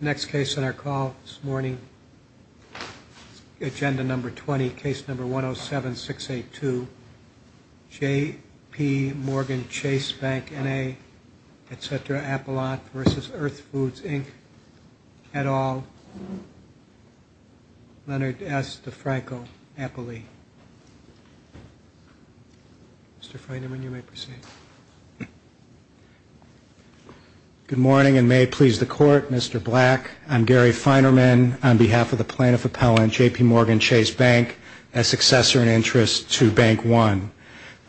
Next case on our call this morning, agenda number 20, case number 107682, J.P. Morgan Chase Bank, N.A., etc., Appalachia v. Earth Foods, Inc., Kettall, Leonard S. DeFranco, Appalachia. Mr. Freidman, you may proceed. Good morning, and may it please the Court, Mr. Black. I'm Gary Feinerman on behalf of the plaintiff appellant, J.P. Morgan Chase Bank, as successor in interest to Bank One.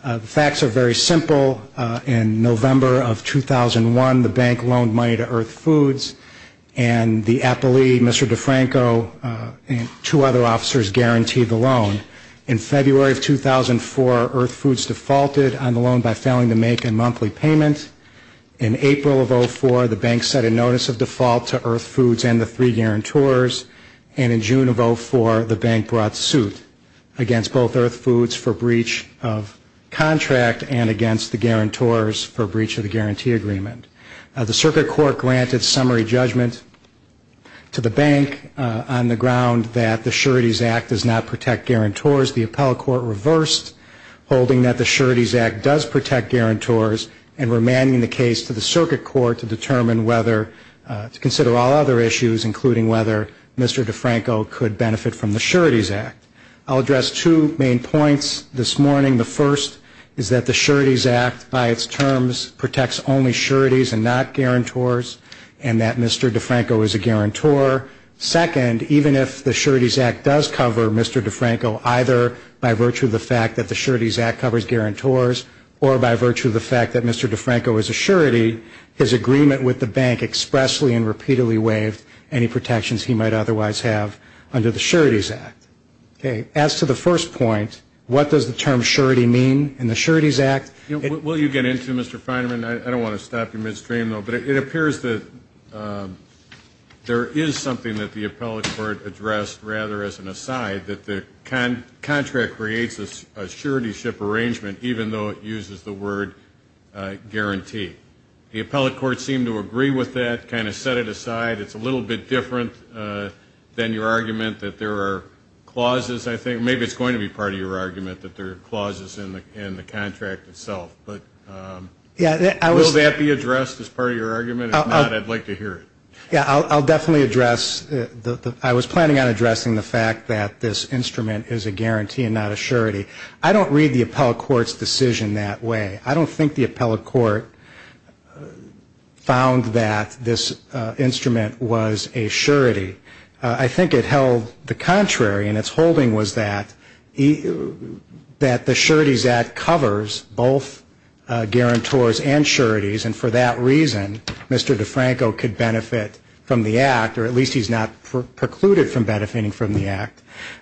The facts are very simple. In November of 2001, the bank loaned money to Earth Foods, and the appellee, Mr. DeFranco, and two other officers guaranteed the loan. In February of 2004, Earth Foods defaulted on the loan by failing to make a monthly payment. In April of 2004, the bank set a notice of default to Earth Foods and the three guarantors. And in June of 2004, the bank brought suit against both Earth Foods for breach of contract and against the guarantors for breach of the guarantee agreement. The circuit court granted summary judgment to the bank on the ground that the Sureties Act does not protect guarantors. The appellate court reversed, holding that the Sureties Act does protect guarantors, and remanding the case to the circuit court to determine whether to consider all other issues, including whether Mr. DeFranco could benefit from the Sureties Act. I'll address two main points this morning. The first is that the Sureties Act, by its terms, protects only sureties and not guarantors, and that Mr. DeFranco is a guarantor. Second, even if the Sureties Act does cover Mr. DeFranco, either by virtue of the fact that the Sureties Act covers guarantors or by virtue of the fact that Mr. DeFranco is a surety, his agreement with the bank expressly and repeatedly waived any protections he might otherwise have under the Sureties Act. As to the first point, what does the term surety mean in the Sureties Act? Will you get into it, Mr. Feinerman? I don't want to stop you midstream, but it appears that there is something that the appellate court addressed rather as an aside, that the contract creates a surety ship arrangement even though it uses the word guarantee. The appellate court seemed to agree with that, kind of set it aside. It's a little bit different than your argument that there are clauses. I think maybe it's going to be part of your argument that there are clauses in the contract itself. Will that be addressed as part of your argument? If not, I'd like to hear it. I was planning on addressing the fact that this instrument is a guarantee and not a surety. I don't read the appellate court's decision that way. I don't think the appellate court found that this instrument was a surety. I think it held the contrary, and its holding was that the Sureties Act covers both guarantors and sureties, and for that reason, Mr. DeFranco could benefit from the Act, or at least he's not precluded from benefiting from the Act.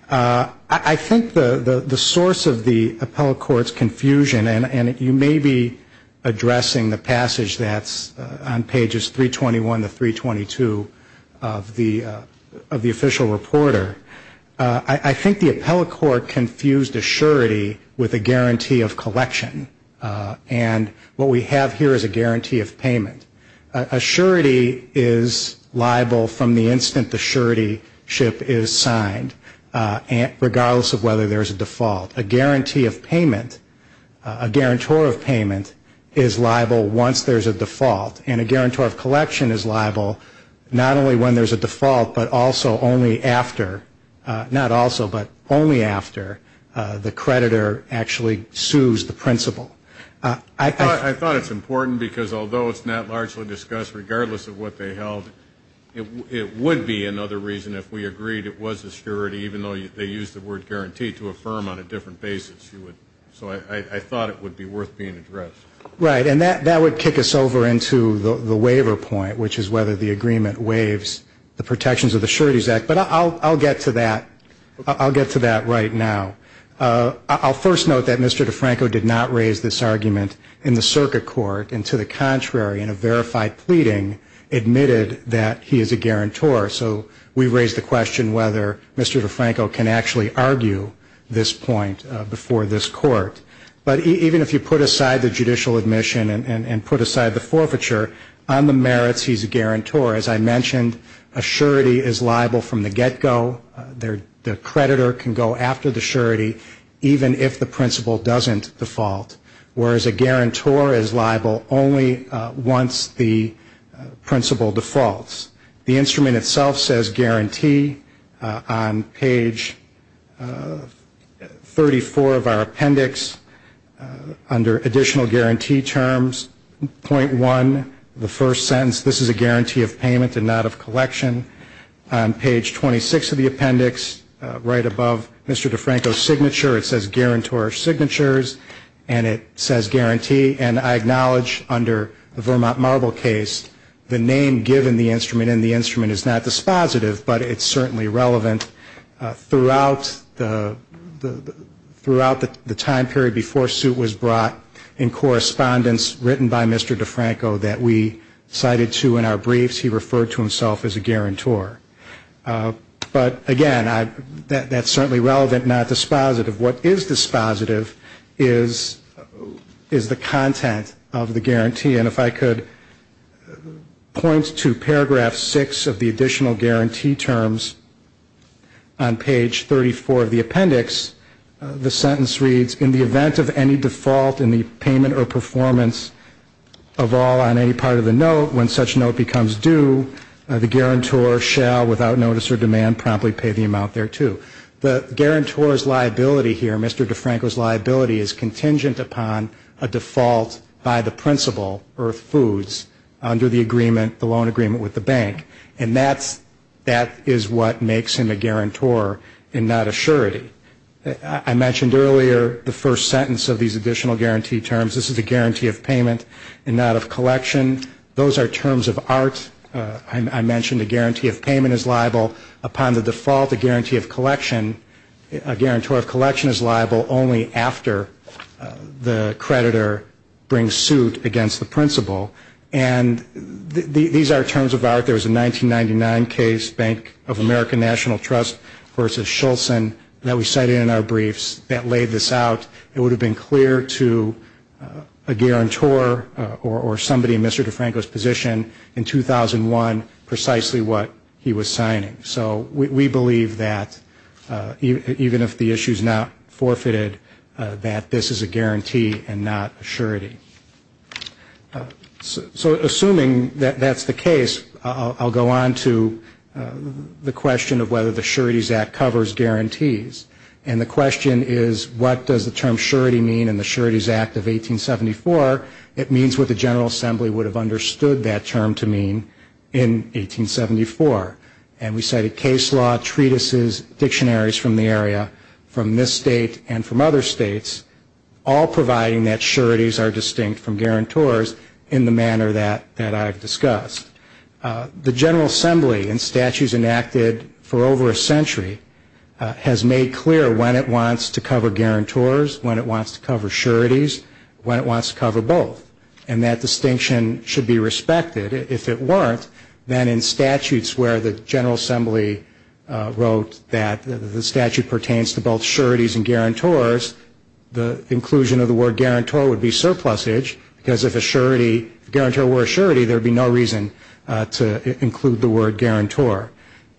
I think the source of the appellate court's confusion, and you may be addressing the passage that's on pages 321 to 322 of the appellate court's decision, is that the official reporter, I think the appellate court confused a surety with a guarantee of collection. And what we have here is a guarantee of payment. A surety is liable from the instant the surety ship is signed, regardless of whether there's a default. A guarantee of payment, a guarantor of payment, is liable once there's a default, and a guarantor of collection is liable not only when there's a default, but also only after, not also, but only after the creditor actually sues the principal. I thought it's important, because although it's not largely discussed, regardless of what they held, it would be another reason if we agreed it was a surety, even though they used the word guarantee to affirm on a different basis. So I thought it would be worth being addressed. Right. And that would kick us over into the waiver point, which is whether the agreement waives the protections of the Sureties Act. But I'll get to that. I'll get to that right now. I'll first note that Mr. DeFranco did not raise this argument in the circuit court, and to the contrary, in a verified pleading, admitted that he is a guarantor. So we've raised the question whether Mr. DeFranco can actually argue this point before this court. But even if you put aside the judicial admission and put aside the forfeiture, on the merits, he's a guarantor. As I mentioned, a surety is liable from the get-go. The creditor can go after the surety, even if the principal doesn't default. Whereas a guarantor is liable only once the principal defaults. The instrument itself says guarantee on page 34 of our appendix. Under additional guarantee terms, point one, the first sentence, this is a guarantee of payment and not of collection. On page 26 of the appendix, right above Mr. DeFranco's signature, it says guarantor signatures, and it says guarantee. And I acknowledge under the Vermont Marble case, the name given the instrument in the instrument is not dispositive, but it's certainly relevant throughout the time period before suit was brought in correspondence written by Mr. DeFranco that we cited to in our briefs. He referred to himself as a guarantor. But again, that's certainly relevant, not dispositive. What is dispositive is the content of the guarantee. And if I could point to paragraph 6 of the additional guarantee terms on page 34 of the appendix, the sentence reads, in the event of any default in the payment or performance of all on any part of the note, when such note becomes due, the guarantor shall, without notice or demand, promptly pay the amount thereto. The guarantor's liability here, Mr. DeFranco's liability, is contingent upon a default by the principal, or foods, under the agreement, the loan agreement with the bank. And that is what makes him a guarantor and not a surety. I mentioned earlier the first sentence of these additional guarantee terms. This is a guarantee of payment and not of collection. Those are terms of art. I mentioned a guarantee of payment is liable upon the default, a guarantee of collection, a guarantor of collection is liable only after the creditor brings suit against the principal. And these are terms of art. There was a 1999 case, Bank of America National Trust v. Shulzin, that we cited in our briefs that laid this out. It would have been clear to a guarantor or somebody in Mr. DeFranco's position in 2001 precisely what he was signing. So we believe that even if the issue is not forfeited, that this is a guarantee and not a surety. So assuming that that's the case, I'll go on to the question of whether the Sureties Act covers guarantees. And the question is, what does the term surety mean in the Sureties Act of 1874? It means what the General Assembly would have understood that term to mean in 1874. And we cited case law, treatises, dictionaries from the area, from this state and from other states, all providing that sureties are distinct from guarantors in the manner that I've discussed. The General Assembly, in statutes enacted for over a century, has made clear when it wants to cover guarantors, when it wants to cover sureties, when it wants to cover both. And that distinction should be respected. If it weren't, then in statutes where the General Assembly wrote that the statute pertains to both sureties and guarantors, the inclusion of the word guarantor would be surplusage, because if a guarantor were a surety, there would be no reason to include the word guarantor.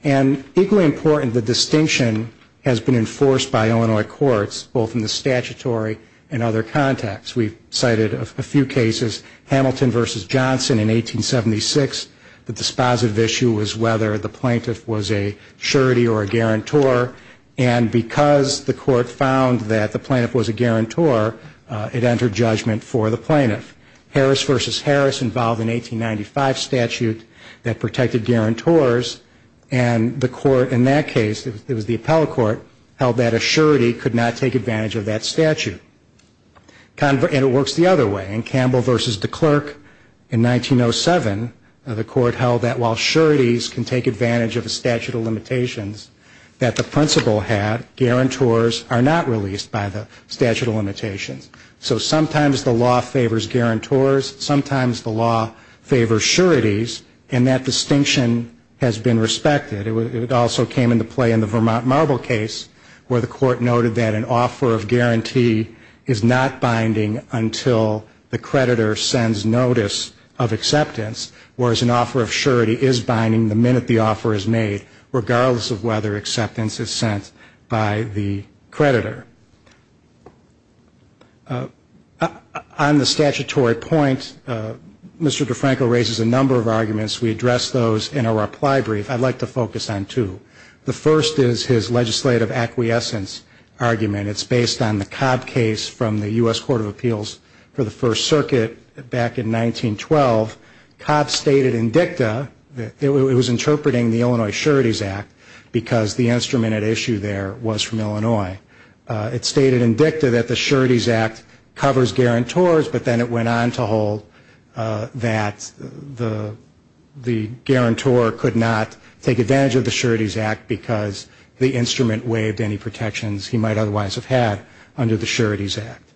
And equally important, the distinction has been enforced by Illinois courts, both in the statutory and other contexts. We've cited a few cases, Hamilton v. Johnson in 1876. The dispositive issue was whether the plaintiff was a surety or a guarantor. And because the court found that the plaintiff was a guarantor, it entered judgment for the plaintiff. Harris v. Harris involved an 1895 statute that protected guarantors, and the court in that case, it was the appellate court, held that a surety could not take advantage of that statute. And it works the other way. In Campbell v. DeKlerk in 1907, the court held that while sureties can take advantage of the statute of limitations that the principal had, guarantors are not released by the statute of limitations. So sometimes the law favors guarantors, sometimes the law favors sureties, and that distinction has been respected. It also came into play in the Vermont Marble case, where the court noted that an offer of guarantee is not binding until the creditor sends notice of acceptance, whereas an offer of surety is binding the minute the offer is made, regardless of whether acceptance is sent by the creditor. On the statutory point, Mr. DeFranco raises a number of arguments. We address those in a reply brief. I'd like to focus on two. The first is his legislative acquiescence argument. It's based on the Cobb case from the U.S. Court of Appeals for the First Circuit back in 1912. Cobb stated in dicta that it was interpreting the Illinois Sureties Act because the instrument at issue there was from Illinois. It stated in dicta that the Sureties Act covers guarantors, but then it went on to hold that the guarantor could not take advantage of the Sureties Act because the instrument waived any protections he might otherwise have had under the Sureties Act.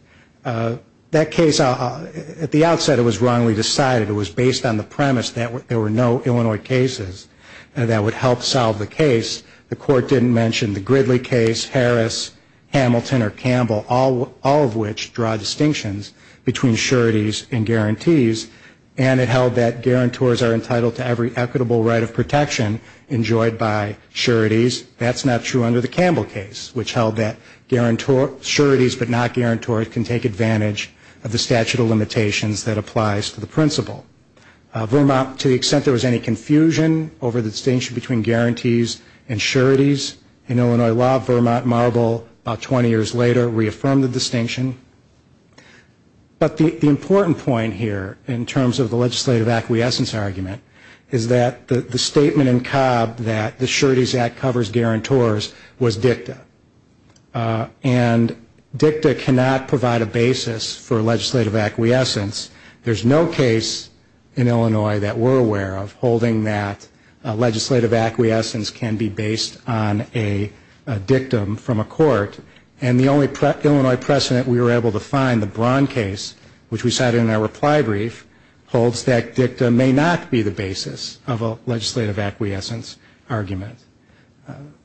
That case, at the outset, it was wrongly decided. It was based on the premise that there were no Illinois cases that would help solve the case. The court didn't mention the Gridley case, Harris, Hamilton, or Campbell, all of which draw distinctions between sureties and guarantees, and it held that guarantors are entitled to every equitable right of protection enjoyed by sureties. That's not true under the Campbell case, which held that sureties but not guarantors can take advantage of the statute of limitations that applies to the principle. Vermont, to the extent there was any confusion over the distinction between guarantees and sureties, in Illinois law, Vermont Marble about 20 years later reaffirmed the distinction. But the important point here in terms of the legislative acquiescence argument is that the statement in Cobb that the Sureties Act covers guarantors was dicta, and dicta cannot provide a basis for legislative acquiescence. There's no case in Illinois that we're aware of holding that legislative acquiescence can be based on a dictum from a court, and the only Illinois precedent we were able to find, the Braun case, which we cited in our reply brief, holds that dicta may not be the basis for legislative acquiescence.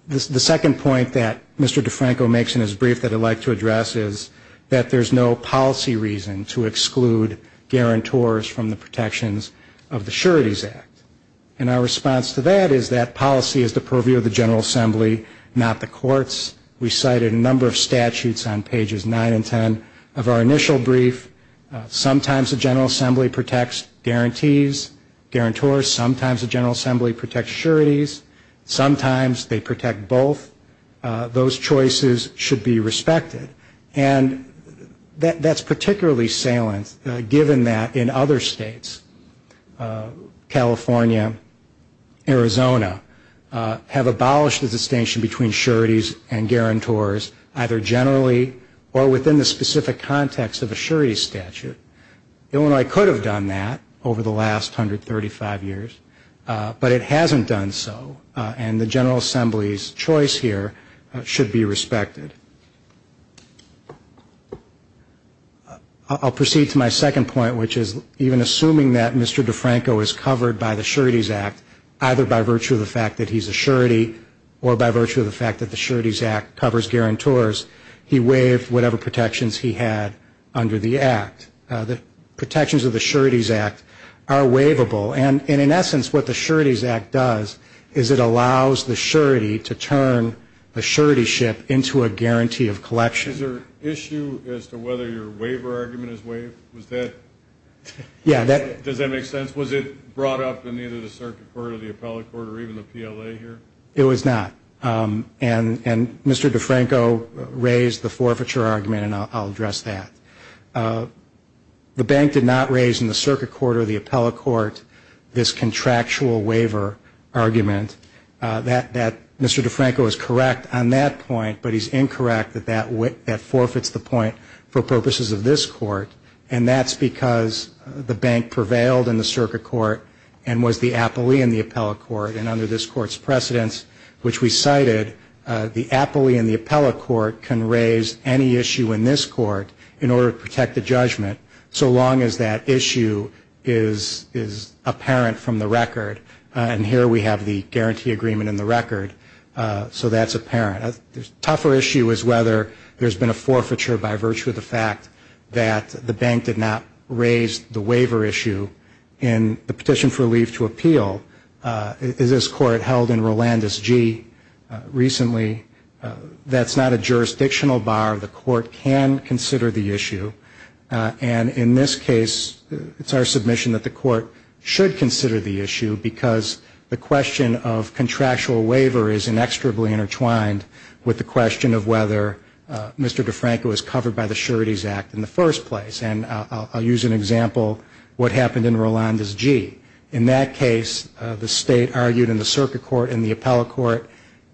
The second point that Mr. DeFranco makes in his brief that I'd like to address is that there's no policy reason to exclude guarantors from the protections of the Sureties Act, and our response to that is that policy is the purview of the General Assembly, not the courts. We cited a number of statutes on pages 9 and 10 of our initial brief. Sometimes the General Assembly protects guarantors, sometimes the General Assembly protects sureties, sometimes they protect both. Those choices should be respected, and that's particularly salient given that in other states, California, Arizona, have abolished the distinction between sureties and guarantors either generally or within the specific context of a surety statute. Illinois could have done that over the last 135 years, but it hasn't done so, and the General Assembly's choice here should be respected. I'll proceed to my second point, which is even assuming that Mr. DeFranco is covered by the Sureties Act, either by virtue of the fact that he's a surety or by virtue of the fact that the Sureties Act covers guarantors, he waived whatever protections he had under the Act. The protections of the Sureties Act are waivable, and in essence, what the Sureties Act does is it allows the surety to turn a surety ship into a guarantee of collection. Is there an issue as to whether your waiver argument is waived? Does that make sense? Was it brought up in either the Circuit Court or the Appellate Court or even the PLA here? It was not, and Mr. DeFranco raised the forfeiture argument, and I'll address that. The bank did not raise in the Circuit Court or the Appellate Court this contractual waiver argument. Mr. DeFranco is correct on that point, but he's incorrect that that forfeits the point for purposes of this Court, and that's because the bank prevailed in the Circuit Court and was the appellee in the Appellate Court. And so there's a precedent, which we cited, the appellee in the Appellate Court can raise any issue in this Court in order to protect the judgment, so long as that issue is apparent from the record. And here we have the guarantee agreement in the record, so that's apparent. A tougher issue is whether there's been a forfeiture by virtue of the fact that the bank did not raise the waiver issue in the Appellate Court. We've seen that in Rolandes G. recently. That's not a jurisdictional bar. The Court can consider the issue, and in this case, it's our submission that the Court should consider the issue, because the question of contractual waiver is inextricably intertwined with the question of whether Mr. DeFranco is covered by the Sureties Act in the first place. And I'll use an example, what happened in that case, the State argued in the Circuit Court, in the Appellate Court,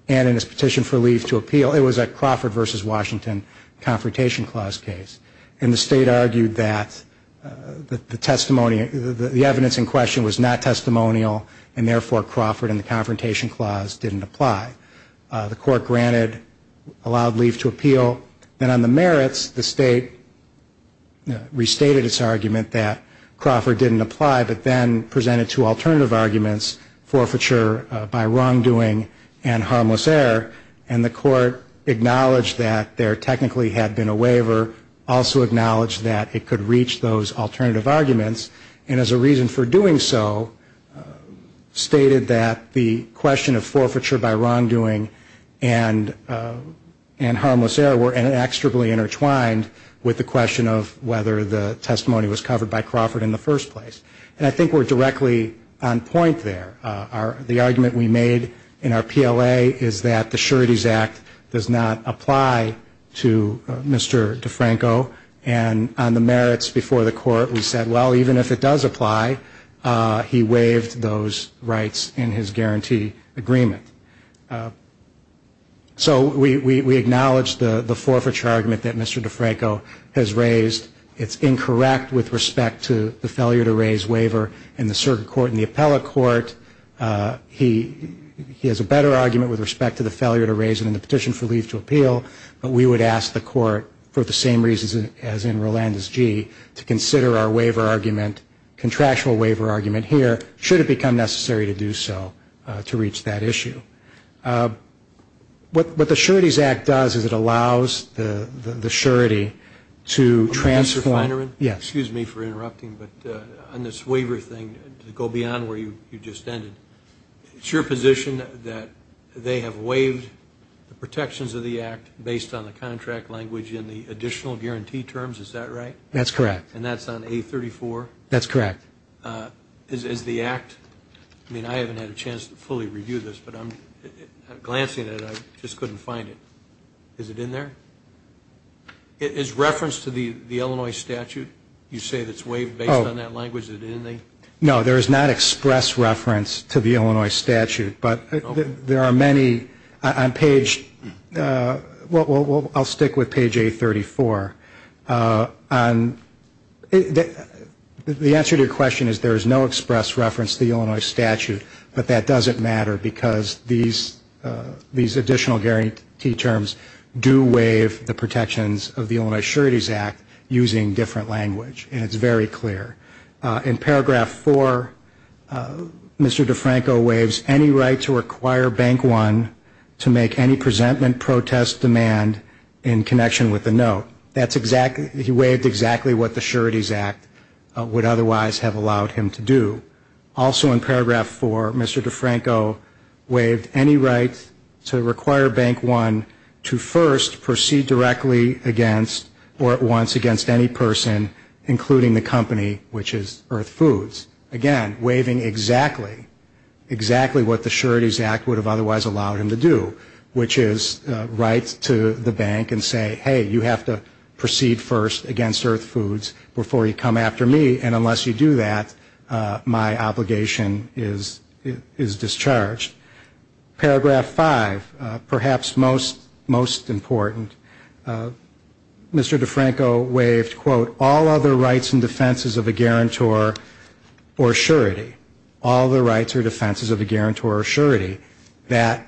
and in its petition for leave to appeal, it was a Crawford v. Washington confrontation clause case. And the State argued that the testimony, the evidence in question was not testimonial, and therefore Crawford and the confrontation clause didn't apply. The Court granted, allowed leave to appeal, and on the merits, the State restated its argument that Crawford didn't apply, but then presented two alternatives. The first was that the State could reach those alternative arguments, forfeiture by wrongdoing and harmless error, and the Court acknowledged that there technically had been a waiver, also acknowledged that it could reach those alternative arguments, and as a reason for doing so, stated that the question of forfeiture by wrongdoing and harmless error were inextricably intertwined with the question of whether the State could reach those alternative arguments. And on point there, the argument we made in our PLA is that the Sureties Act does not apply to Mr. DeFranco, and on the merits before the Court, we said, well, even if it does apply, he waived those rights in his guarantee agreement. So we acknowledge the forfeiture argument that Mr. DeFranco has raised. It's incorrect with respect to the failure to raise waiver in the circuit court. In the appellate court, he has a better argument with respect to the failure to raise it in the petition for leave to appeal, but we would ask the Court, for the same reasons as in Rolandus G., to consider our waiver argument, contractual waiver argument here, should it become necessary to do so to reach that issue. What the Sureties Act does is it allows the surety to transform into a contractual waiver agreement, and it does not apply to Mr. DeFranco. It's your position that they have waived the protections of the Act based on the contract language in the additional guarantee terms, is that right? That's correct. I mean, I haven't had a chance to fully review this, but I'm glancing at it. I just couldn't find it. Is it in there? Is reference to the Illinois statute, you say, that's waived based on that language? No, there is not express reference to the Illinois statute, but there are many on page, well, I'll stick with page 834. The answer to your question is there is no express reference to the Illinois statute, but that doesn't matter because these additional guarantee terms do waive the protections of the Illinois Sureties Act using different language, and it's very clear. In paragraph 4, Mr. DeFranco waives any right to require Bank One to make any presentment, protest, demand in connection with the note. That's exactly, he waived exactly what the Sureties Act would otherwise have allowed him to do. Also in paragraph 4, Mr. DeFranco waived any right to require Bank One to make any presentment, protest, demand in connection with the note. He requires Bank One to first proceed directly against or at once against any person, including the company, which is Earth Foods. Again, waiving exactly, exactly what the Sureties Act would have otherwise allowed him to do, which is write to the bank and say, hey, you have to proceed first against Earth Foods before you come after me, and unless you do that, my obligation is discharged. Paragraph 5, perhaps most important, Mr. DeFranco waived, quote, all other rights and defenses of a guarantor or surety. All the rights or defenses of a guarantor or surety. That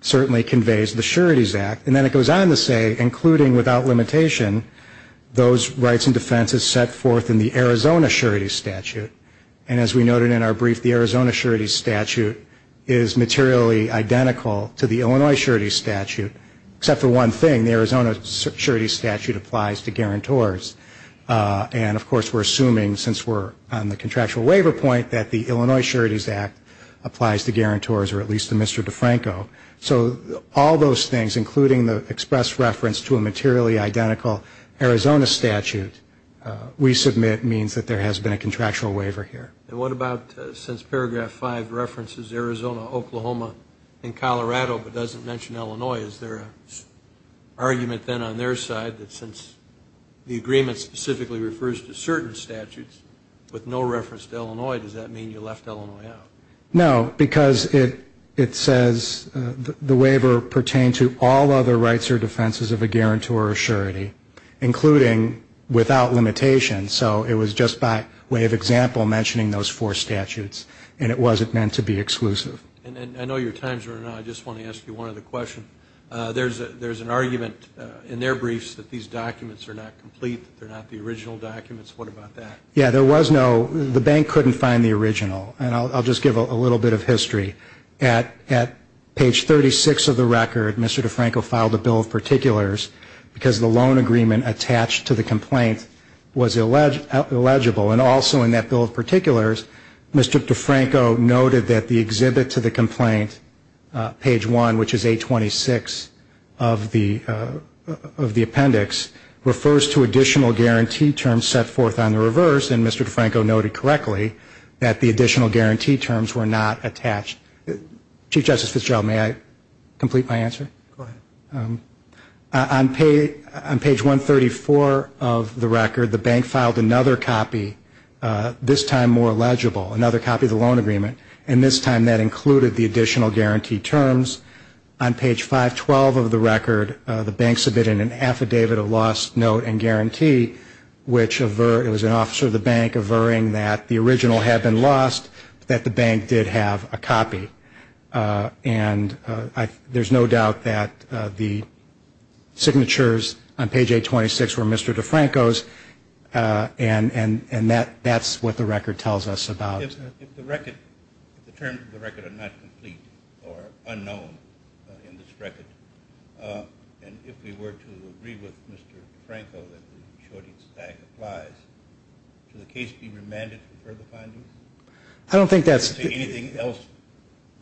certainly conveys the Sureties Act. And then it goes on to say, including without limitation, those rights and defenses set forth in the Arizona Sureties Statute. And as we noted in our brief, the Arizona Sureties Statute is materially identical to the Illinois Sureties Statute, except for one thing. The Arizona Sureties Statute applies to guarantors. And of course, we're assuming, since we're on the contractual waiver point, that the Illinois Sureties Act applies to guarantors, or at least to Mr. DeFranco. So all those things, including the express reference to a materially identical Arizona Statute, we submit means that there has been a contractual waiver. And what about since paragraph 5 references Arizona, Oklahoma, and Colorado, but doesn't mention Illinois, is there an argument then on their side that since the agreement specifically refers to certain statutes with no reference to Illinois, does that mean you left Illinois out? No, because it says the waiver pertained to all other rights or defenses of a guarantor or surety, including without limitation. So it was just by way of example mentioning those four statutes, and it wasn't meant to be exclusive. And I know your time's running out, I just want to ask you one other question. There's an argument in their briefs that these documents are not complete, that they're not the original documents. What about that? Yeah, there was no, the bank couldn't find the original, and I'll just give a little bit of history. At page 36 of the record, Mr. DeFranco filed a bill of particulars, because the loan agreement attached to the complaint was illegal. And also in that bill of particulars, Mr. DeFranco noted that the exhibit to the complaint, page 1, which is 826 of the appendix, refers to additional guarantee terms set forth on the reverse, and Mr. DeFranco noted correctly that the additional guarantee terms were not attached. Chief Justice Fitzgerald, may I complete my answer? Go ahead. On page 134 of the record, the bank filed another copy, this time more legible, another copy of the loan agreement, and this time that included the additional guarantee terms. On page 512 of the record, the bank submitted an affidavit of lost note and guarantee, which was an officer of the bank averring that the original had been lost, but that the bank did have a copy. And there's no doubt that the signatures on page 826 were Mr. DeFranco's, and that's what the record tells us about. If the terms of the record are not complete or unknown in this record, and if we were to agree with Mr. DeFranco that the shorting stag applies, should the case be remanded for further findings? Is there anything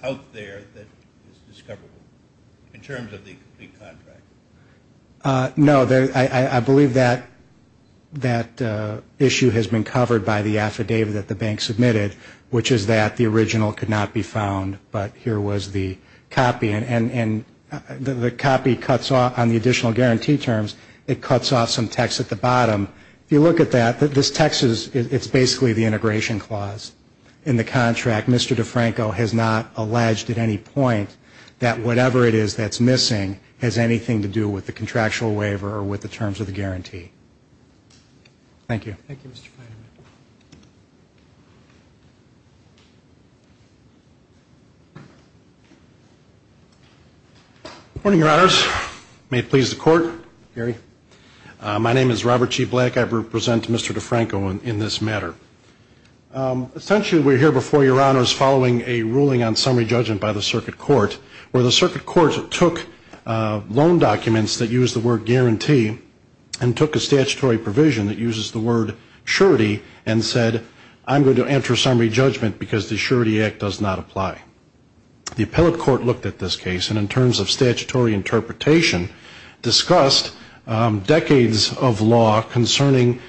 out there that is discoverable in terms of the complete contract? No, I believe that issue has been covered by the affidavit that the bank submitted, which is that the original could not be found, but here was the copy. And the copy cuts off on the additional guarantee terms, it cuts off some text at the bottom. If you look at that, this text is basically the integration clause in the contract. Mr. DeFranco has not alleged at any point that whatever it is that's missing has anything to do with the contractual waiver or with the terms of the guarantee. Thank you. Robert G. Black. Good morning, Your Honors. May it please the Court. Gary. My name is Robert G. Black. I represent Mr. DeFranco in this matter. Essentially, we're here before Your Honors following a ruling on summary judgment by the Circuit Court, where the Circuit Court took loan documents that use the word guarantee and took a statutory provision that uses the word surety and said, I'm going to enter summary judgment because the surety act does not apply. The appellate court looked at this case, and in terms of statutory interpretation, discussed the decades of law concerning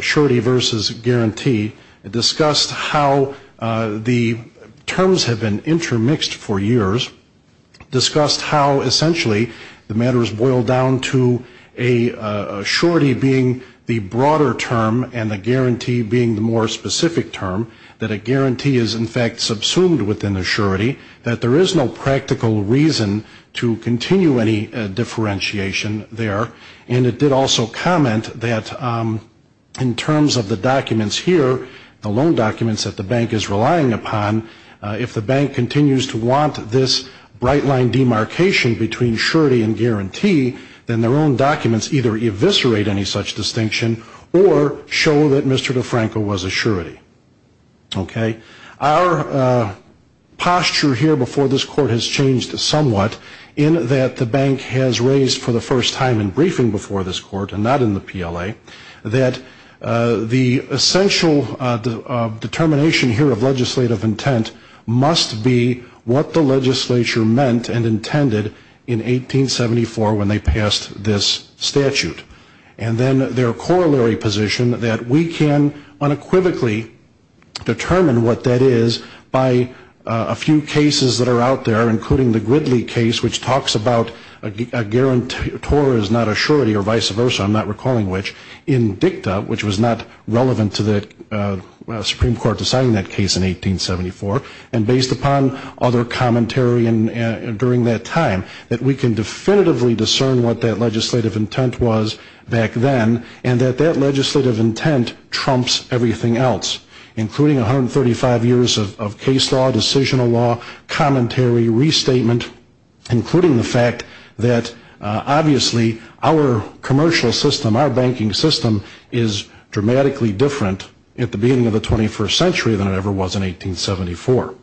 surety versus guarantee, discussed how the terms have been intermixed for years, discussed how essentially the matter has boiled down to a surety being the broader term and a guarantee being the more specific term, that a guarantee is, in fact, subsumed within the surety, that there is no practical reason to continue any differentiation there. And it did also comment that in terms of the documents here, the loan documents that the bank is relying upon, if the bank continues to want this bright line demarcation between surety and guarantee, then their own documents either eviscerate any such distinction or show that Mr. DeFranco was a surety. Okay? Our posture here before this Court has changed somewhat in that the bank has raised for the first time in briefing before this Court, and not in the PLA, that the essential determination here of legislative intent must be what the legislature meant and intended in 1874 when they passed this statute. And then their corollary position that we can unequivocally determine what that is by a few cases that are out there, including the Gridley case, which talks about a guarantor is not a surety or vice versa, I'm not recalling which, in dicta, which was not relevant to the Supreme Court deciding that case in 1874, and based upon other commentary during that time, that we can definitively discern what that legislative intent was back then, and that that legislative intent trumps everything else, including 135 years of case law, decisional law, commentary, restatement, including the fact that obviously our commercial system, our banking system is dramatically different at the beginning of the 21st century than it ever was in 1874.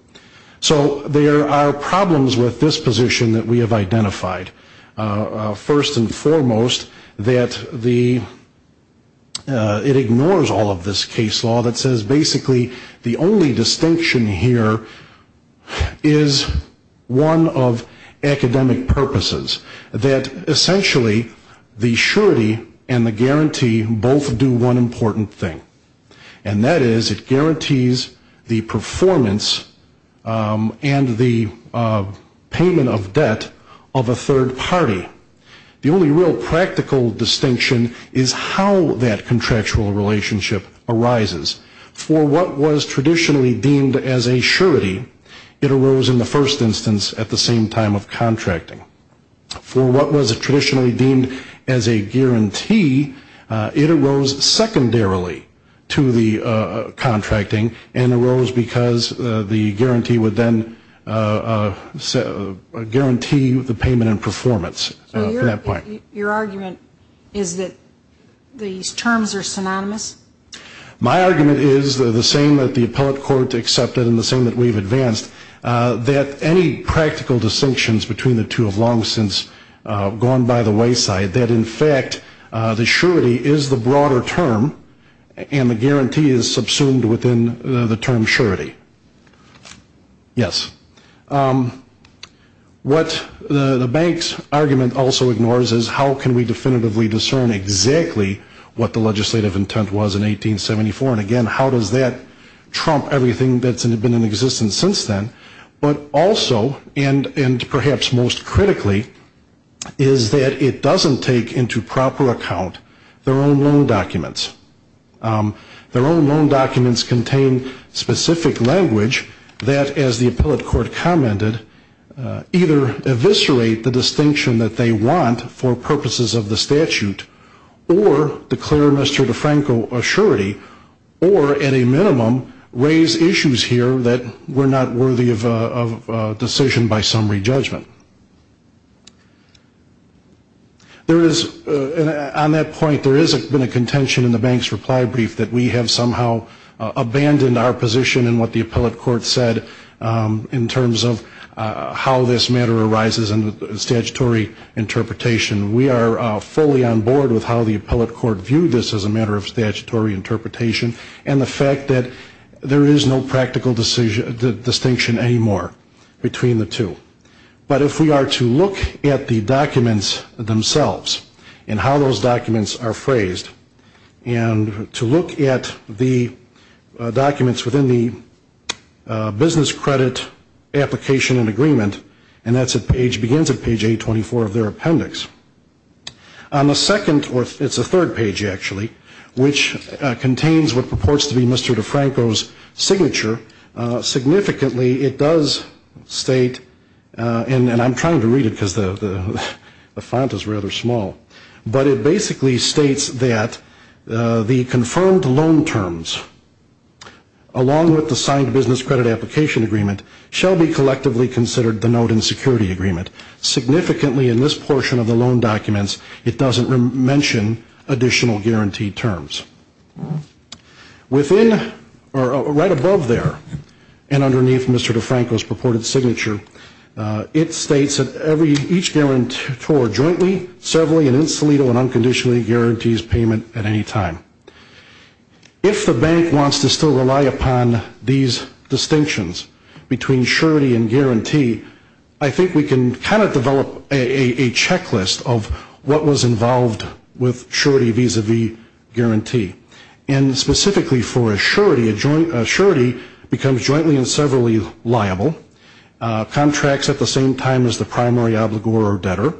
So there are problems with this position that we have identified. First and foremost, that it ignores all of this case law that says basically the only distinction here is one of academic purposes, that essentially the surety and the guarantee both do one important thing, and that is it guarantees the performance and the payment of debt of a third party. The only real practical distinction is how that contractual relationship arises. For what was traditionally deemed as a surety, it arose in the first instance at the same time of contracting. For what was traditionally deemed as a guarantee, it arose secondarily to the contracting, and arose because the guarantee would then guarantee the payment and performance at that point. Your argument is that these terms are synonymous? My argument is the same that the appellate court accepted and the same that we've advanced, that any practical distinctions between the two have long since gone by the wayside, that in fact the surety is the broader term, and the guarantee is subsumed within the term surety. Yes. What the bank's argument also ignores is how can we definitively discern exactly what the legislative intent was in 1874, and again, how does that trump everything that's been in existence since then, but also, and perhaps most critically, is that it doesn't take into proper account their own loan documents. Their own loan documents contain specific language that as the appellate court commented, either eviscerate the distinction that they want for purposes of the statute, or declare Mr. DeFranco a surety, or at a minimum, raise issues here that were not worthy of decision by summary judgment. There is, on that point, there has been a contention in the bank's reply brief that we have somehow abandoned our position in what the appellate court said in terms of how this matter arises in the statutory interpretation. We are fully on board with how the appellate court viewed this as a matter of statutory interpretation, and the fact that there is no practical distinction anymore between the two. But if we are to look at the documents themselves, and how those documents are phrased, and to look at the documents within the business credit application and agreement, and that's at page, begins at page 824 of their appendix. On the second, or it's the third page, actually, which contains what purports to be Mr. DeFranco's signature, significantly it does state, and I'm trying to read it because the font is rather small, but it basically states that the confirmed loan terms, along with the signing of the business credit application agreement, shall be collectively considered the note in security agreement. Significantly in this portion of the loan documents, it doesn't mention additional guaranteed terms. Within, or right above there, and underneath Mr. DeFranco's purported signature, it states that each guarantor jointly, severally, and in solito and unconditionally guarantees payment at any time. If the bank wants to still rely upon these distinctions between surety and guarantee, I think we can kind of develop a checklist of what was involved with surety vis-a-vis guarantee. And specifically for a surety, a surety becomes jointly and severally liable, contracts at the same time as the primary obligor or debtor,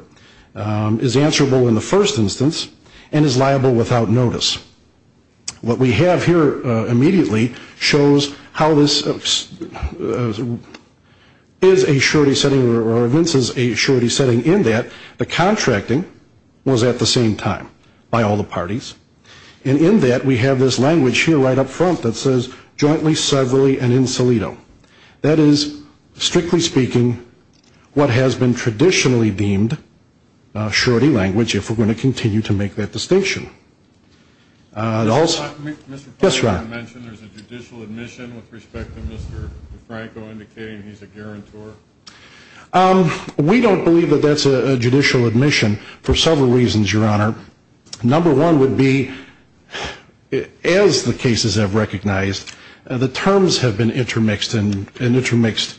is answerable in the first instance, and is liable without notice. What we have here immediately shows how this is a surety setting or evinces a surety setting in that the contracting was at the same time by all the parties, and in that we have this language here right up front that says jointly, severally, and in solito. That is, strictly speaking, what has been traditionally deemed surety language. If we're going to continue to make that distinction. Yes, Your Honor. We don't believe that that's a judicial admission for several reasons, Your Honor. Number one would be, as the cases have recognized, the terms have been intermixed and intermixed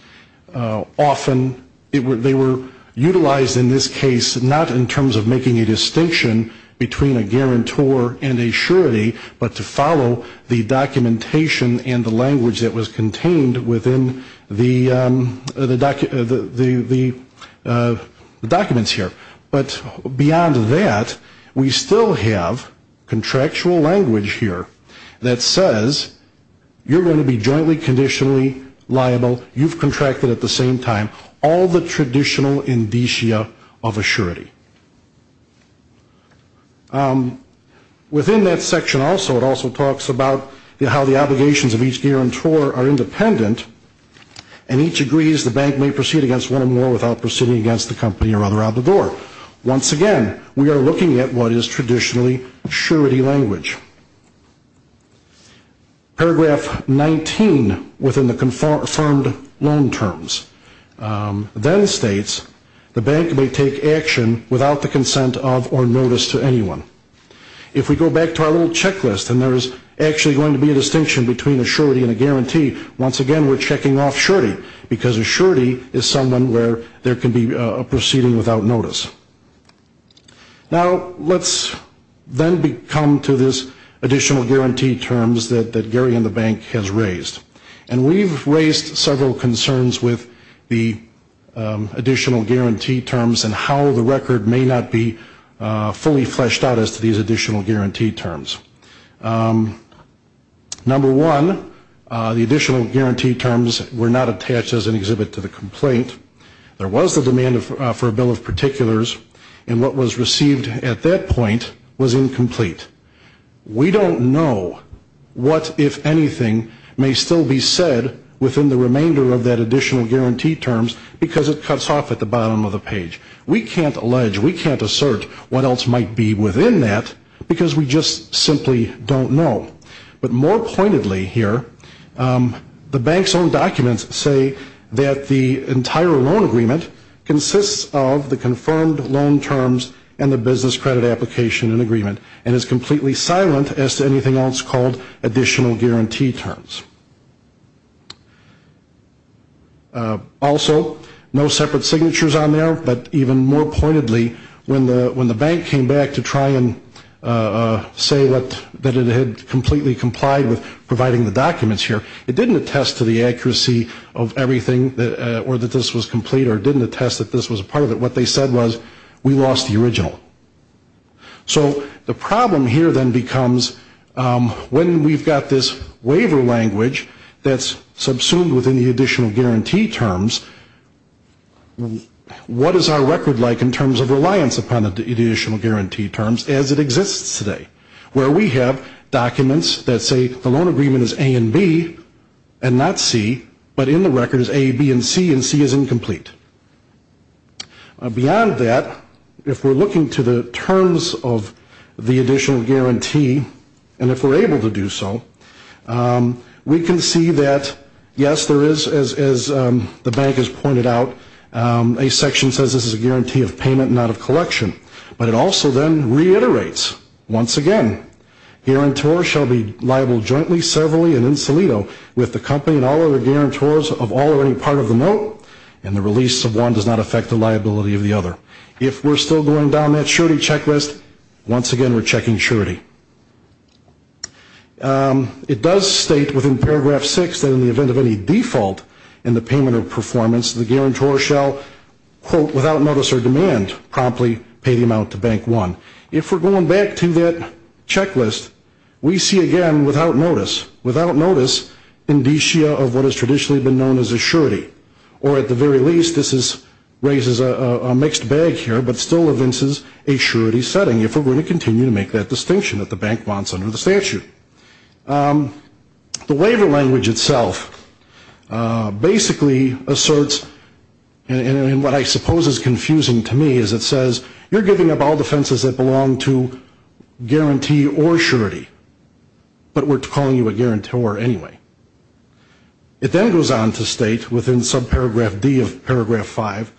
often. They were utilized in this case not in terms of making a distinction between a guarantor and a surety, but to follow the documentation and the language that was contained within the documents here. But beyond that, we still have contractual language here that says you're going to be jointly conditionally liable, you've contracted at the same time, all the traditional indicia of a surety. Within that section also, it also talks about how the obligations of each guarantor are independent, and each agrees the bank may proceed against one or more without proceeding against the company or other out the door. Once again, we are looking at what is traditionally surety language. Paragraph 19 within the confirmed loan terms then states the bank may take action without the consent of or notice to anyone. If we go back to our little checklist, and there is actually going to be a distinction between a surety and a guarantee, once again, we're checking off surety, because a surety is someone where there can be a proceeding without notice. Now, let's then come to this additional guarantee terms that Gary and the bank has raised. And we've raised several concerns with the additional guarantee terms and how the record may not be fully fleshed out as to these additional guarantee terms. Number one, the additional guarantee terms were not attached as an exhibit to the complaint. There was the demand for a bill of particulars, and what was received at that point was incomplete. We don't know what, if anything, may still be said within the remainder of that additional guarantee terms, because it cuts off at the bottom of the page. We can't allege, we can't assert what else might be within that, because we just simply don't know. But more pointedly here, the bank's own documents say that the entire loan agreement consists of the confirmed loan terms and the business credit application and agreement, and is completely silent as to anything else called additional guarantee terms. Also, no separate signatures on there, but even more pointedly, when the bank came back to try and say that it had completed complied with providing the documents here, it didn't attest to the accuracy of everything, or that this was complete, or it didn't attest that this was a part of it. What they said was, we lost the original. So the problem here then becomes, when we've got this waiver language that's subsumed within the additional guarantee terms, what is our record like in terms of reliance upon the additional guarantee terms as it exists today? We've got documents that say the loan agreement is A and B, and not C, but in the records A, B, and C, and C is incomplete. Beyond that, if we're looking to the terms of the additional guarantee, and if we're able to do so, we can see that, yes, there is, as the bank has pointed out, a section says this is a guarantee of payment, not of collection. But it also then reiterates, once again, guarantor shall be liable jointly, severally, and in solito with the company and all other guarantors of all or any part of the note, and the release of one does not affect the liability of the other. If we're still going down that surety checklist, once again we're checking surety. It does state within paragraph six that in the event of any default in the payment or performance, the guarantor shall, quote, without notice or demand, promptly pay the amount to Bank One. If we're going back to that checklist, we see again, without notice, indicia of what has traditionally been known as a surety, or at the very least, this raises a mixed bag here, but still evinces a surety setting, if we're going to continue to make that distinction that the bank wants under the statute. The waiver language itself basically asserts, and what I suppose is confusing to me, is it says you're giving up all defenses that belong to guarantee or surety, but we're calling you a guarantor anyway. It then goes on to state, within subparagraph D of paragraph five,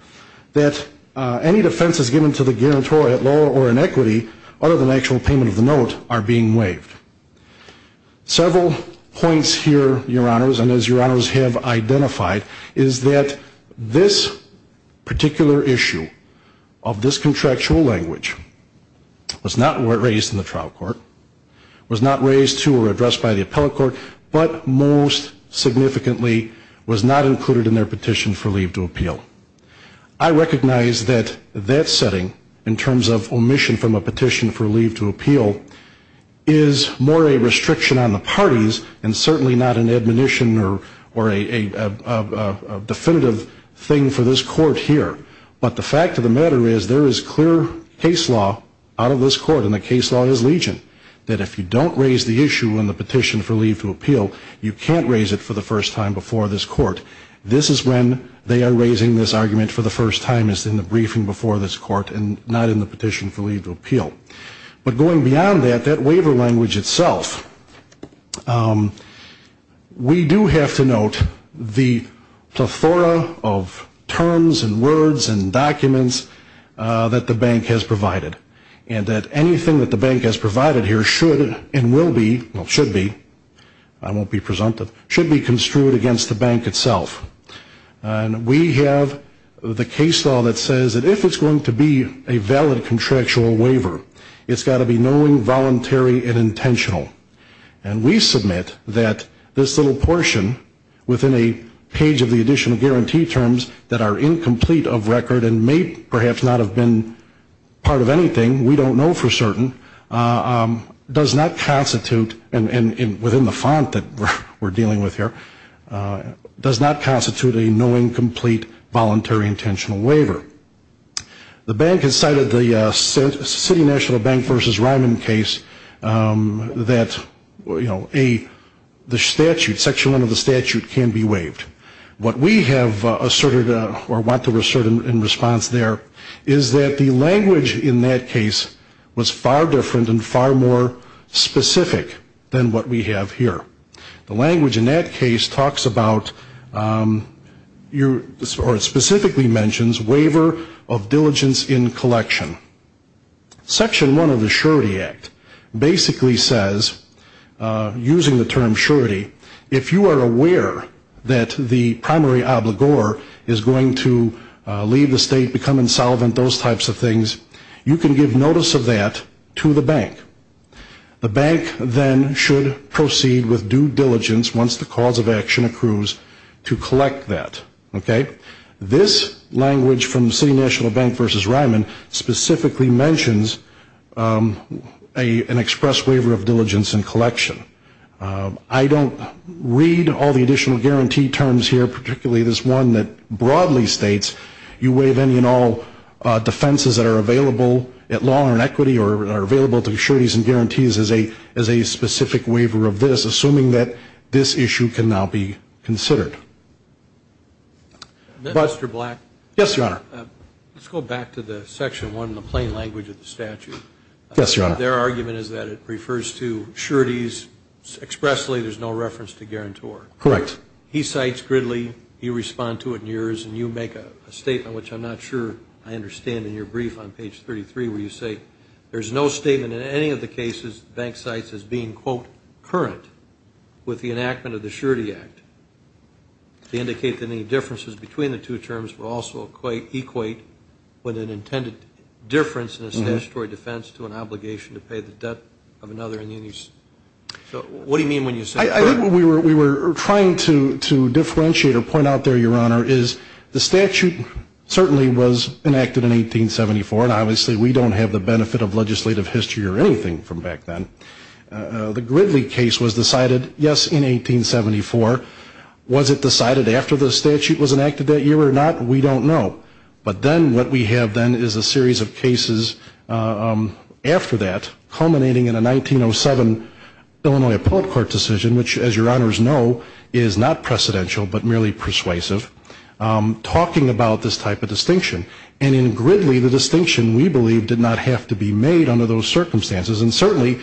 that any defenses given to the guarantor at law or in equity, other than actual payment of the note, are being waived. Several points here, Your Honors, and as Your Honors have identified, is that this particular issue of this contractual language was not raised in the trial court, was not raised to or addressed by the appellate court, but most significantly was not included in their petition for leave to appeal. The fact of the matter is, there is clear case law out of this court, and the case law is legion, that if you don't raise the issue in the petition for leave to appeal, you can't raise it for the first time before this court. This is when they are raising this argument for the first time, is in the briefing before this court, and not in the petition for leave to appeal. But going beyond that, that waiver language itself, we do have to note the plethora of terms and words and documents that the bank has provided, and that anything that the bank has provided here should and will be, well, should be, I won't be presumptive, should be construed against the bank itself. And we have the case law that says that if it's going to be a valid contractual waiver, it's got to be knowing, voluntary, and intentional. And we submit that this little portion, within a page of the additional guarantee terms that are incomplete of record and may perhaps not have been part of anything, we don't know for certain, does not constitute, and within the font that we're dealing with here, does not constitute a knowing, complete, voluntary, intentional waiver. The bank has cited the City National Bank v. Ryman case that, you know, the statute, section one of the statute can be waived. What we have asserted, or want to assert in response there, is that the language in that case was far different and far more specific than what we have here. The language in that case talks about, or specifically mentions, waiver of diligence in collection. Section one of the Surety Act basically says, using the term surety, if you are aware that the primary obligor is going to leave the state, become insolvent, those types of things, you can give notice of that to the bank. The bank then should proceed with due diligence, once the cause of action accrues, to collect that. Okay? This language from the City National Bank v. Ryman specifically mentions an express waiver of diligence in collection. I don't read all the additional guarantee terms here, particularly this one that broadly states you waive any and all defenses that are available at law or in equity, or are available to you, you can give notice of that, but I don't read all the additional guarantees as a specific waiver of this, assuming that this issue can now be considered. Mr. Black? Yes, Your Honor. Let's go back to the section one, the plain language of the statute. Yes, Your Honor. Their argument is that it refers to sureties expressly, there's no reference to guarantor. Correct. He cites Gridley, you respond to it in yours, and you make a statement, which I'm not sure I understand in your brief on page 33, where you say there's no statement in any of the cases the bank cites as being, quote, current with the enactment of the Surety Act. They indicate that any differences between the two terms will also equate with an intended difference in a statutory defense to an obligation to pay the debt of another. So what do you mean when you say current? I think what we were trying to differentiate or point out there, Your Honor, is the statute certainly was not a statute that was enacted in 1874, and obviously we don't have the benefit of legislative history or anything from back then. The Gridley case was decided, yes, in 1874. Was it decided after the statute was enacted that year or not? We don't know. But then what we have then is a series of cases after that, culminating in a 1907 Illinois Appellate Court decision, which, as Your Honors know, is not a statutory case. And in Gridley, the distinction, we believe, did not have to be made under those circumstances, and certainly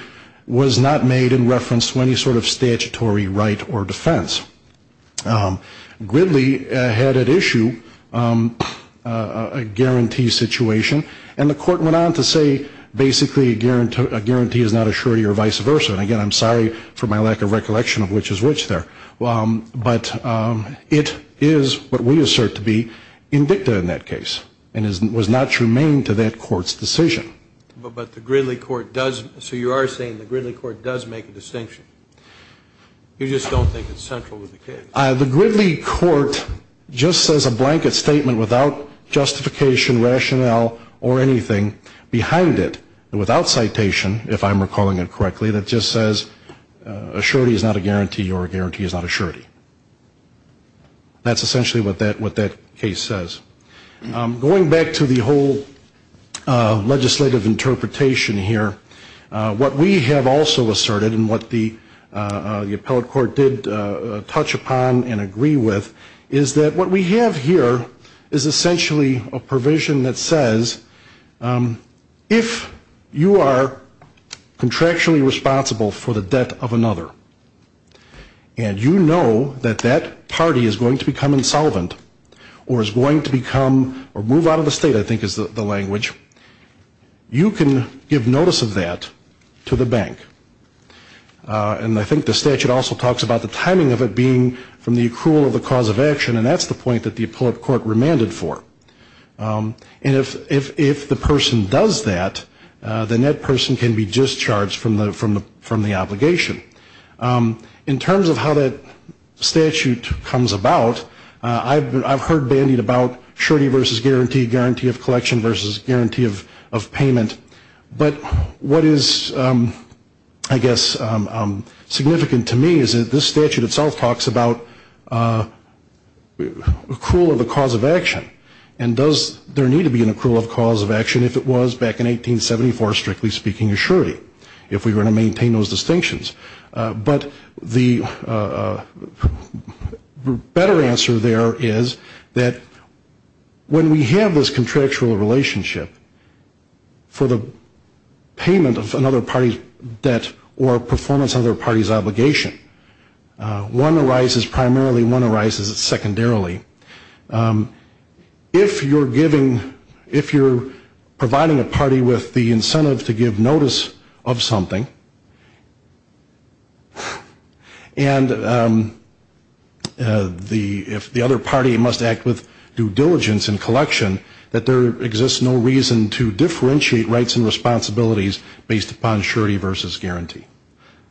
was not made in reference to any sort of statutory right or defense. Gridley had at issue a guarantee situation, and the court went on to say basically a guarantee is not a surety or vice versa. And again, I'm sorry for my lack of recollection of which is which there. But it is what we assert to be indicta in that case, and was not germane to that court's decision. But the Gridley court does, so you are saying the Gridley court does make a distinction. You just don't think it's central to the case. The Gridley court just says a blanket statement without justification, rationale, or anything behind it, and without citation, if I'm right, is not a guarantee, or a guarantee is not a surety. That's essentially what that case says. Going back to the whole legislative interpretation here, what we have also asserted, and what the appellate court did touch upon and agree with, is that what we have here is essentially a provision that says if you are contractually responsible for the debt of another, if you are contractually responsible for the debt of another, and you know that that party is going to become insolvent, or is going to become, or move out of the state, I think is the language, you can give notice of that to the bank. And I think the statute also talks about the timing of it being from the accrual of the cause of action, and that's the point that the appellate court remanded for. And if the person does that, then that person can be discharged from the obligation. In terms of how that statute comes about, I've heard bandied about surety versus guarantee, guarantee of collection versus guarantee of payment. But what is, I guess, significant to me is that this statute itself talks about accrual of the cause of action, and does there need to be an accrual of cause of action if it was back in 1874 strictly speaking of surety, if we were to maintain those distinctions. But the better answer there is that when we have this contractual relationship, for the payment of another party's debt or performance of another party's obligation, one arises primarily, one arises secondarily. If you're giving, if you're providing a party with the incentive to give, if you're providing a party with the incentive to give notice of something, and the, if the other party must act with due diligence in collection, that there exists no reason to differentiate rights and responsibilities based upon surety versus guarantee.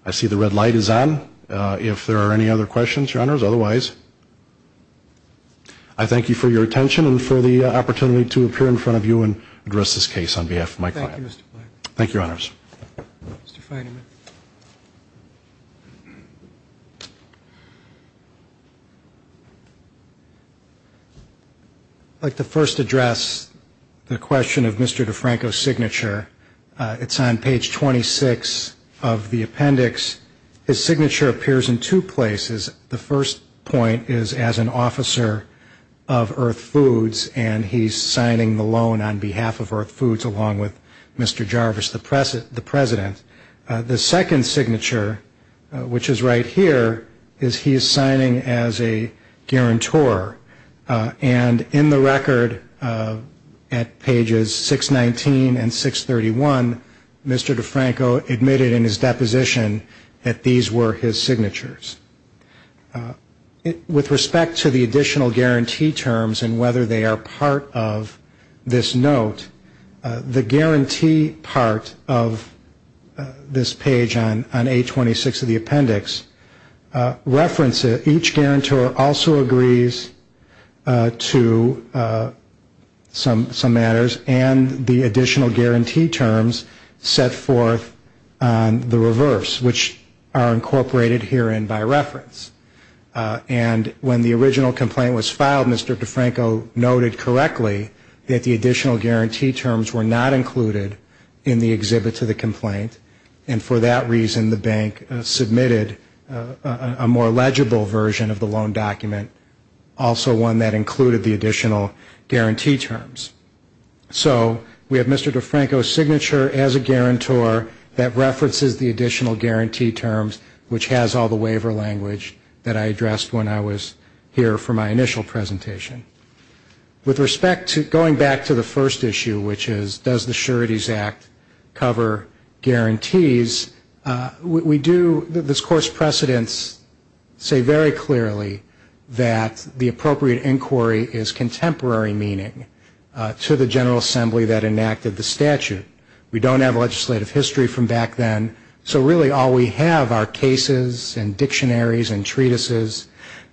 I see the red light is on. If there are any other questions, Your Honors, otherwise, I thank you for your attention and for the opportunity to appear in front of you and address this case on behalf of my client. Thank you, Your Honors. I'd like to first address the question of Mr. DeFranco's signature. It's on page 26 of the appendix. His signature appears in two places. The first point is as an officer of Earth Foods, and he's signing the loan on behalf of Earth Foods, and he's signing the loan on behalf of Earth Foods, along with Mr. Jarvis, the President. The second signature, which is right here, is he's signing as a guarantor, and in the record at pages 619 and 631, Mr. DeFranco admitted in his deposition that these were his signatures. With respect to the additional guarantee terms and whether they are part of this note, there is no guarantee that Mr. DeFranco signed. The guarantee part of this page on 826 of the appendix references each guarantor also agrees to some matters, and the additional guarantee terms set forth on the reverse, which are incorporated herein by reference. And when the original complaint was submitted, Mr. DeFranco's signature was not included in the exhibit to the complaint, and for that reason the bank submitted a more legible version of the loan document, also one that included the additional guarantee terms. So we have Mr. DeFranco's signature as a guarantor that references the additional guarantee terms, which has all the waiver language that I addressed when I was here for my initial presentation. And then finally, as far as the Sureties Act cover guarantees, we do, this course precedents say very clearly that the appropriate inquiry is contemporary meaning to the General Assembly that enacted the statute. We don't have legislative history from back then, so really all we have are cases and dictionaries and treatises,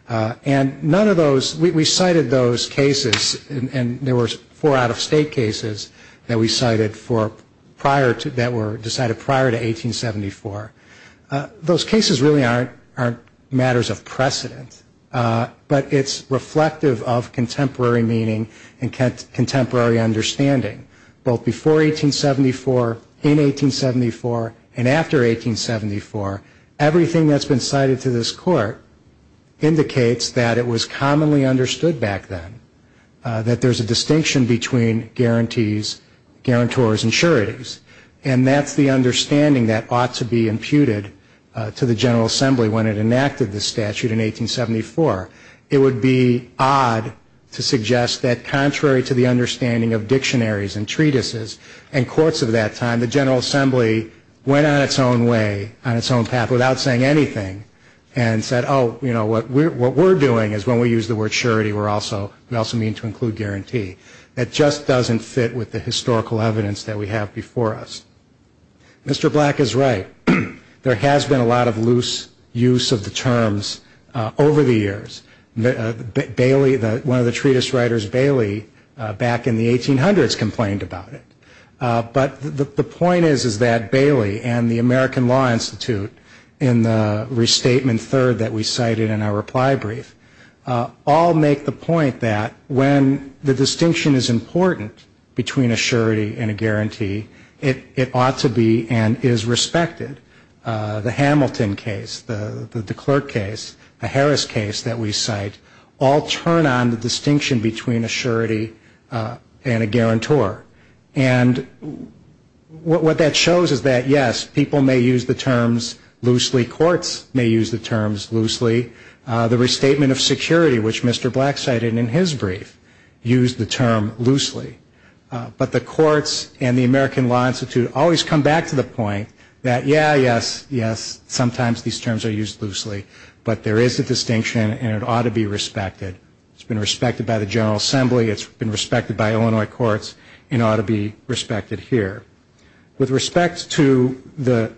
and none of those, we cited those cases, and there were four out-of-state cases that we cited for prior to, that were decided prior to 1874. Those cases really aren't matters of precedent, but it's reflective of contemporary meaning and contemporary understanding. Both before 1874, in 1874, and after 1874, everything that's been cited to this court indicates that it was commonly understood back then, that there's a distinction between guarantee terms and the guarantees, guarantors, and sureties. And that's the understanding that ought to be imputed to the General Assembly when it enacted the statute in 1874. It would be odd to suggest that contrary to the understanding of dictionaries and treatises and courts of that time, the General Assembly went on its own way, on its own path, without saying anything, and said, oh, you know, what we're doing is when we use the word surety, we also mean to include guarantee. That just doesn't fit with the historical evidence that we have before us. Mr. Black is right. There has been a lot of loose use of the terms over the years. Bailey, one of the treatise writers, Bailey, back in the 1800s complained about it. But the point is that Bailey and the American Law Institute, in the restatement third that we cite, all make the point that when the distinction is important between a surety and a guarantee, it ought to be and is respected. The Hamilton case, the DeClercq case, the Harris case that we cite, all turn on the distinction between a surety and a guarantor. And what that shows is that, yes, people may use the terms loosely. Courts may use the terms loosely. The restatement of security, which Mr. Black cited in his brief, used the term loosely. But the courts and the American Law Institute always come back to the point that, yeah, yes, yes, sometimes these terms are used loosely, but there is a distinction and it ought to be respected. It's been respected by the General Assembly. It's been respected by Illinois courts and ought to be respected here. With respect to the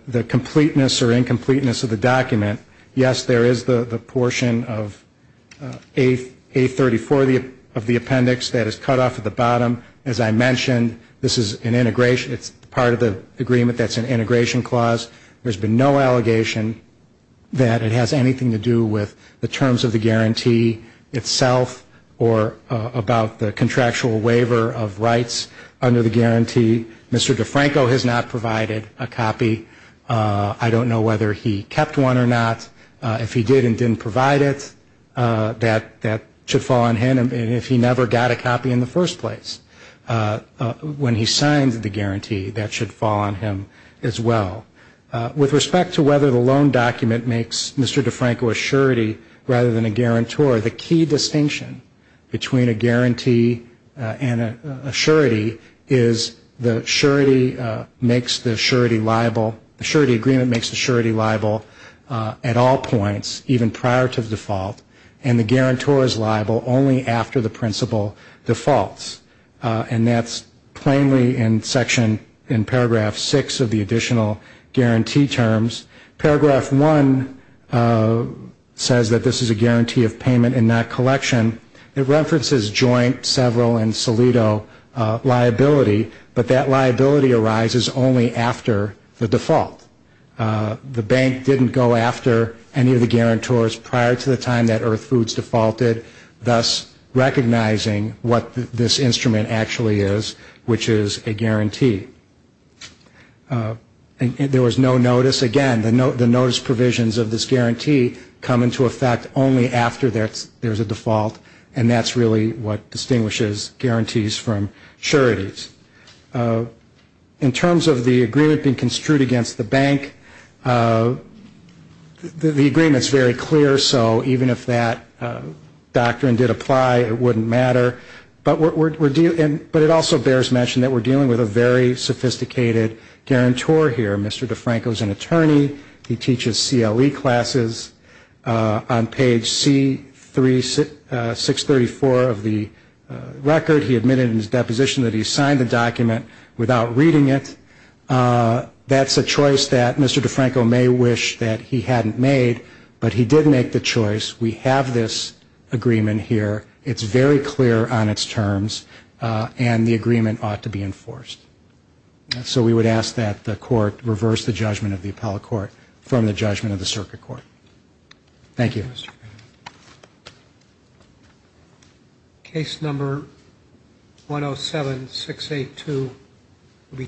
A34 of the appendix that is cut off at the bottom, as I mentioned, this is an integration, it's part of the agreement that's an integration clause. There's been no allegation that it has anything to do with the terms of the guarantee itself or about the contractual waiver of rights under the guarantee. Mr. DeFranco has not provided a copy. I don't know whether he kept one or not. If he did and didn't provide it, that should fall on him. And if he never got a copy in the first place when he signed the guarantee, that should fall on him as well. With respect to whether the loan document makes Mr. DeFranco a surety rather than a guarantor, the key distinction between a guarantee and a surety is the surety makes the surety liable, the surety agreement makes the surety liable at all points, even prior to default, and the guarantor is liable only after the principal defaults. And that's plainly in section, in paragraph 6 of the additional guarantee terms. Paragraph 1 says that this is a guarantee of payment and not collection. It references joint, several, and solido liability, but that liability arises only after the default. The bank didn't go after any of the guarantors prior to the time that Earth Foods defaulted, thus recognizing what this instrument actually is, which is a guarantee. And there was no notice. Again, the notice provisions of this guarantee come into effect only after there's a default, and that's really what distinguishes guarantees from sureties. In terms of the agreement being construed against the bank, the agreement's very clear. So even if that doctrine did apply, it wouldn't matter. But it also bears mention that we're dealing with a very sophisticated guarantor here. Mr. DeFranco's an attorney. He teaches CLE classes. On page C634 of the record, he admitted in his deposition that he signed the document without reading it. That's a choice that Mr. DeFranco may wish that he hadn't made, but he did make the choice. We have this agreement here. It's very clear on its terms, and the agreement ought to be enforced. So we would ask that the court reverse the judgment of the appellate court from the judgment of the circuit court. Thank you. Case number 107682 will be taken up at the next hearing.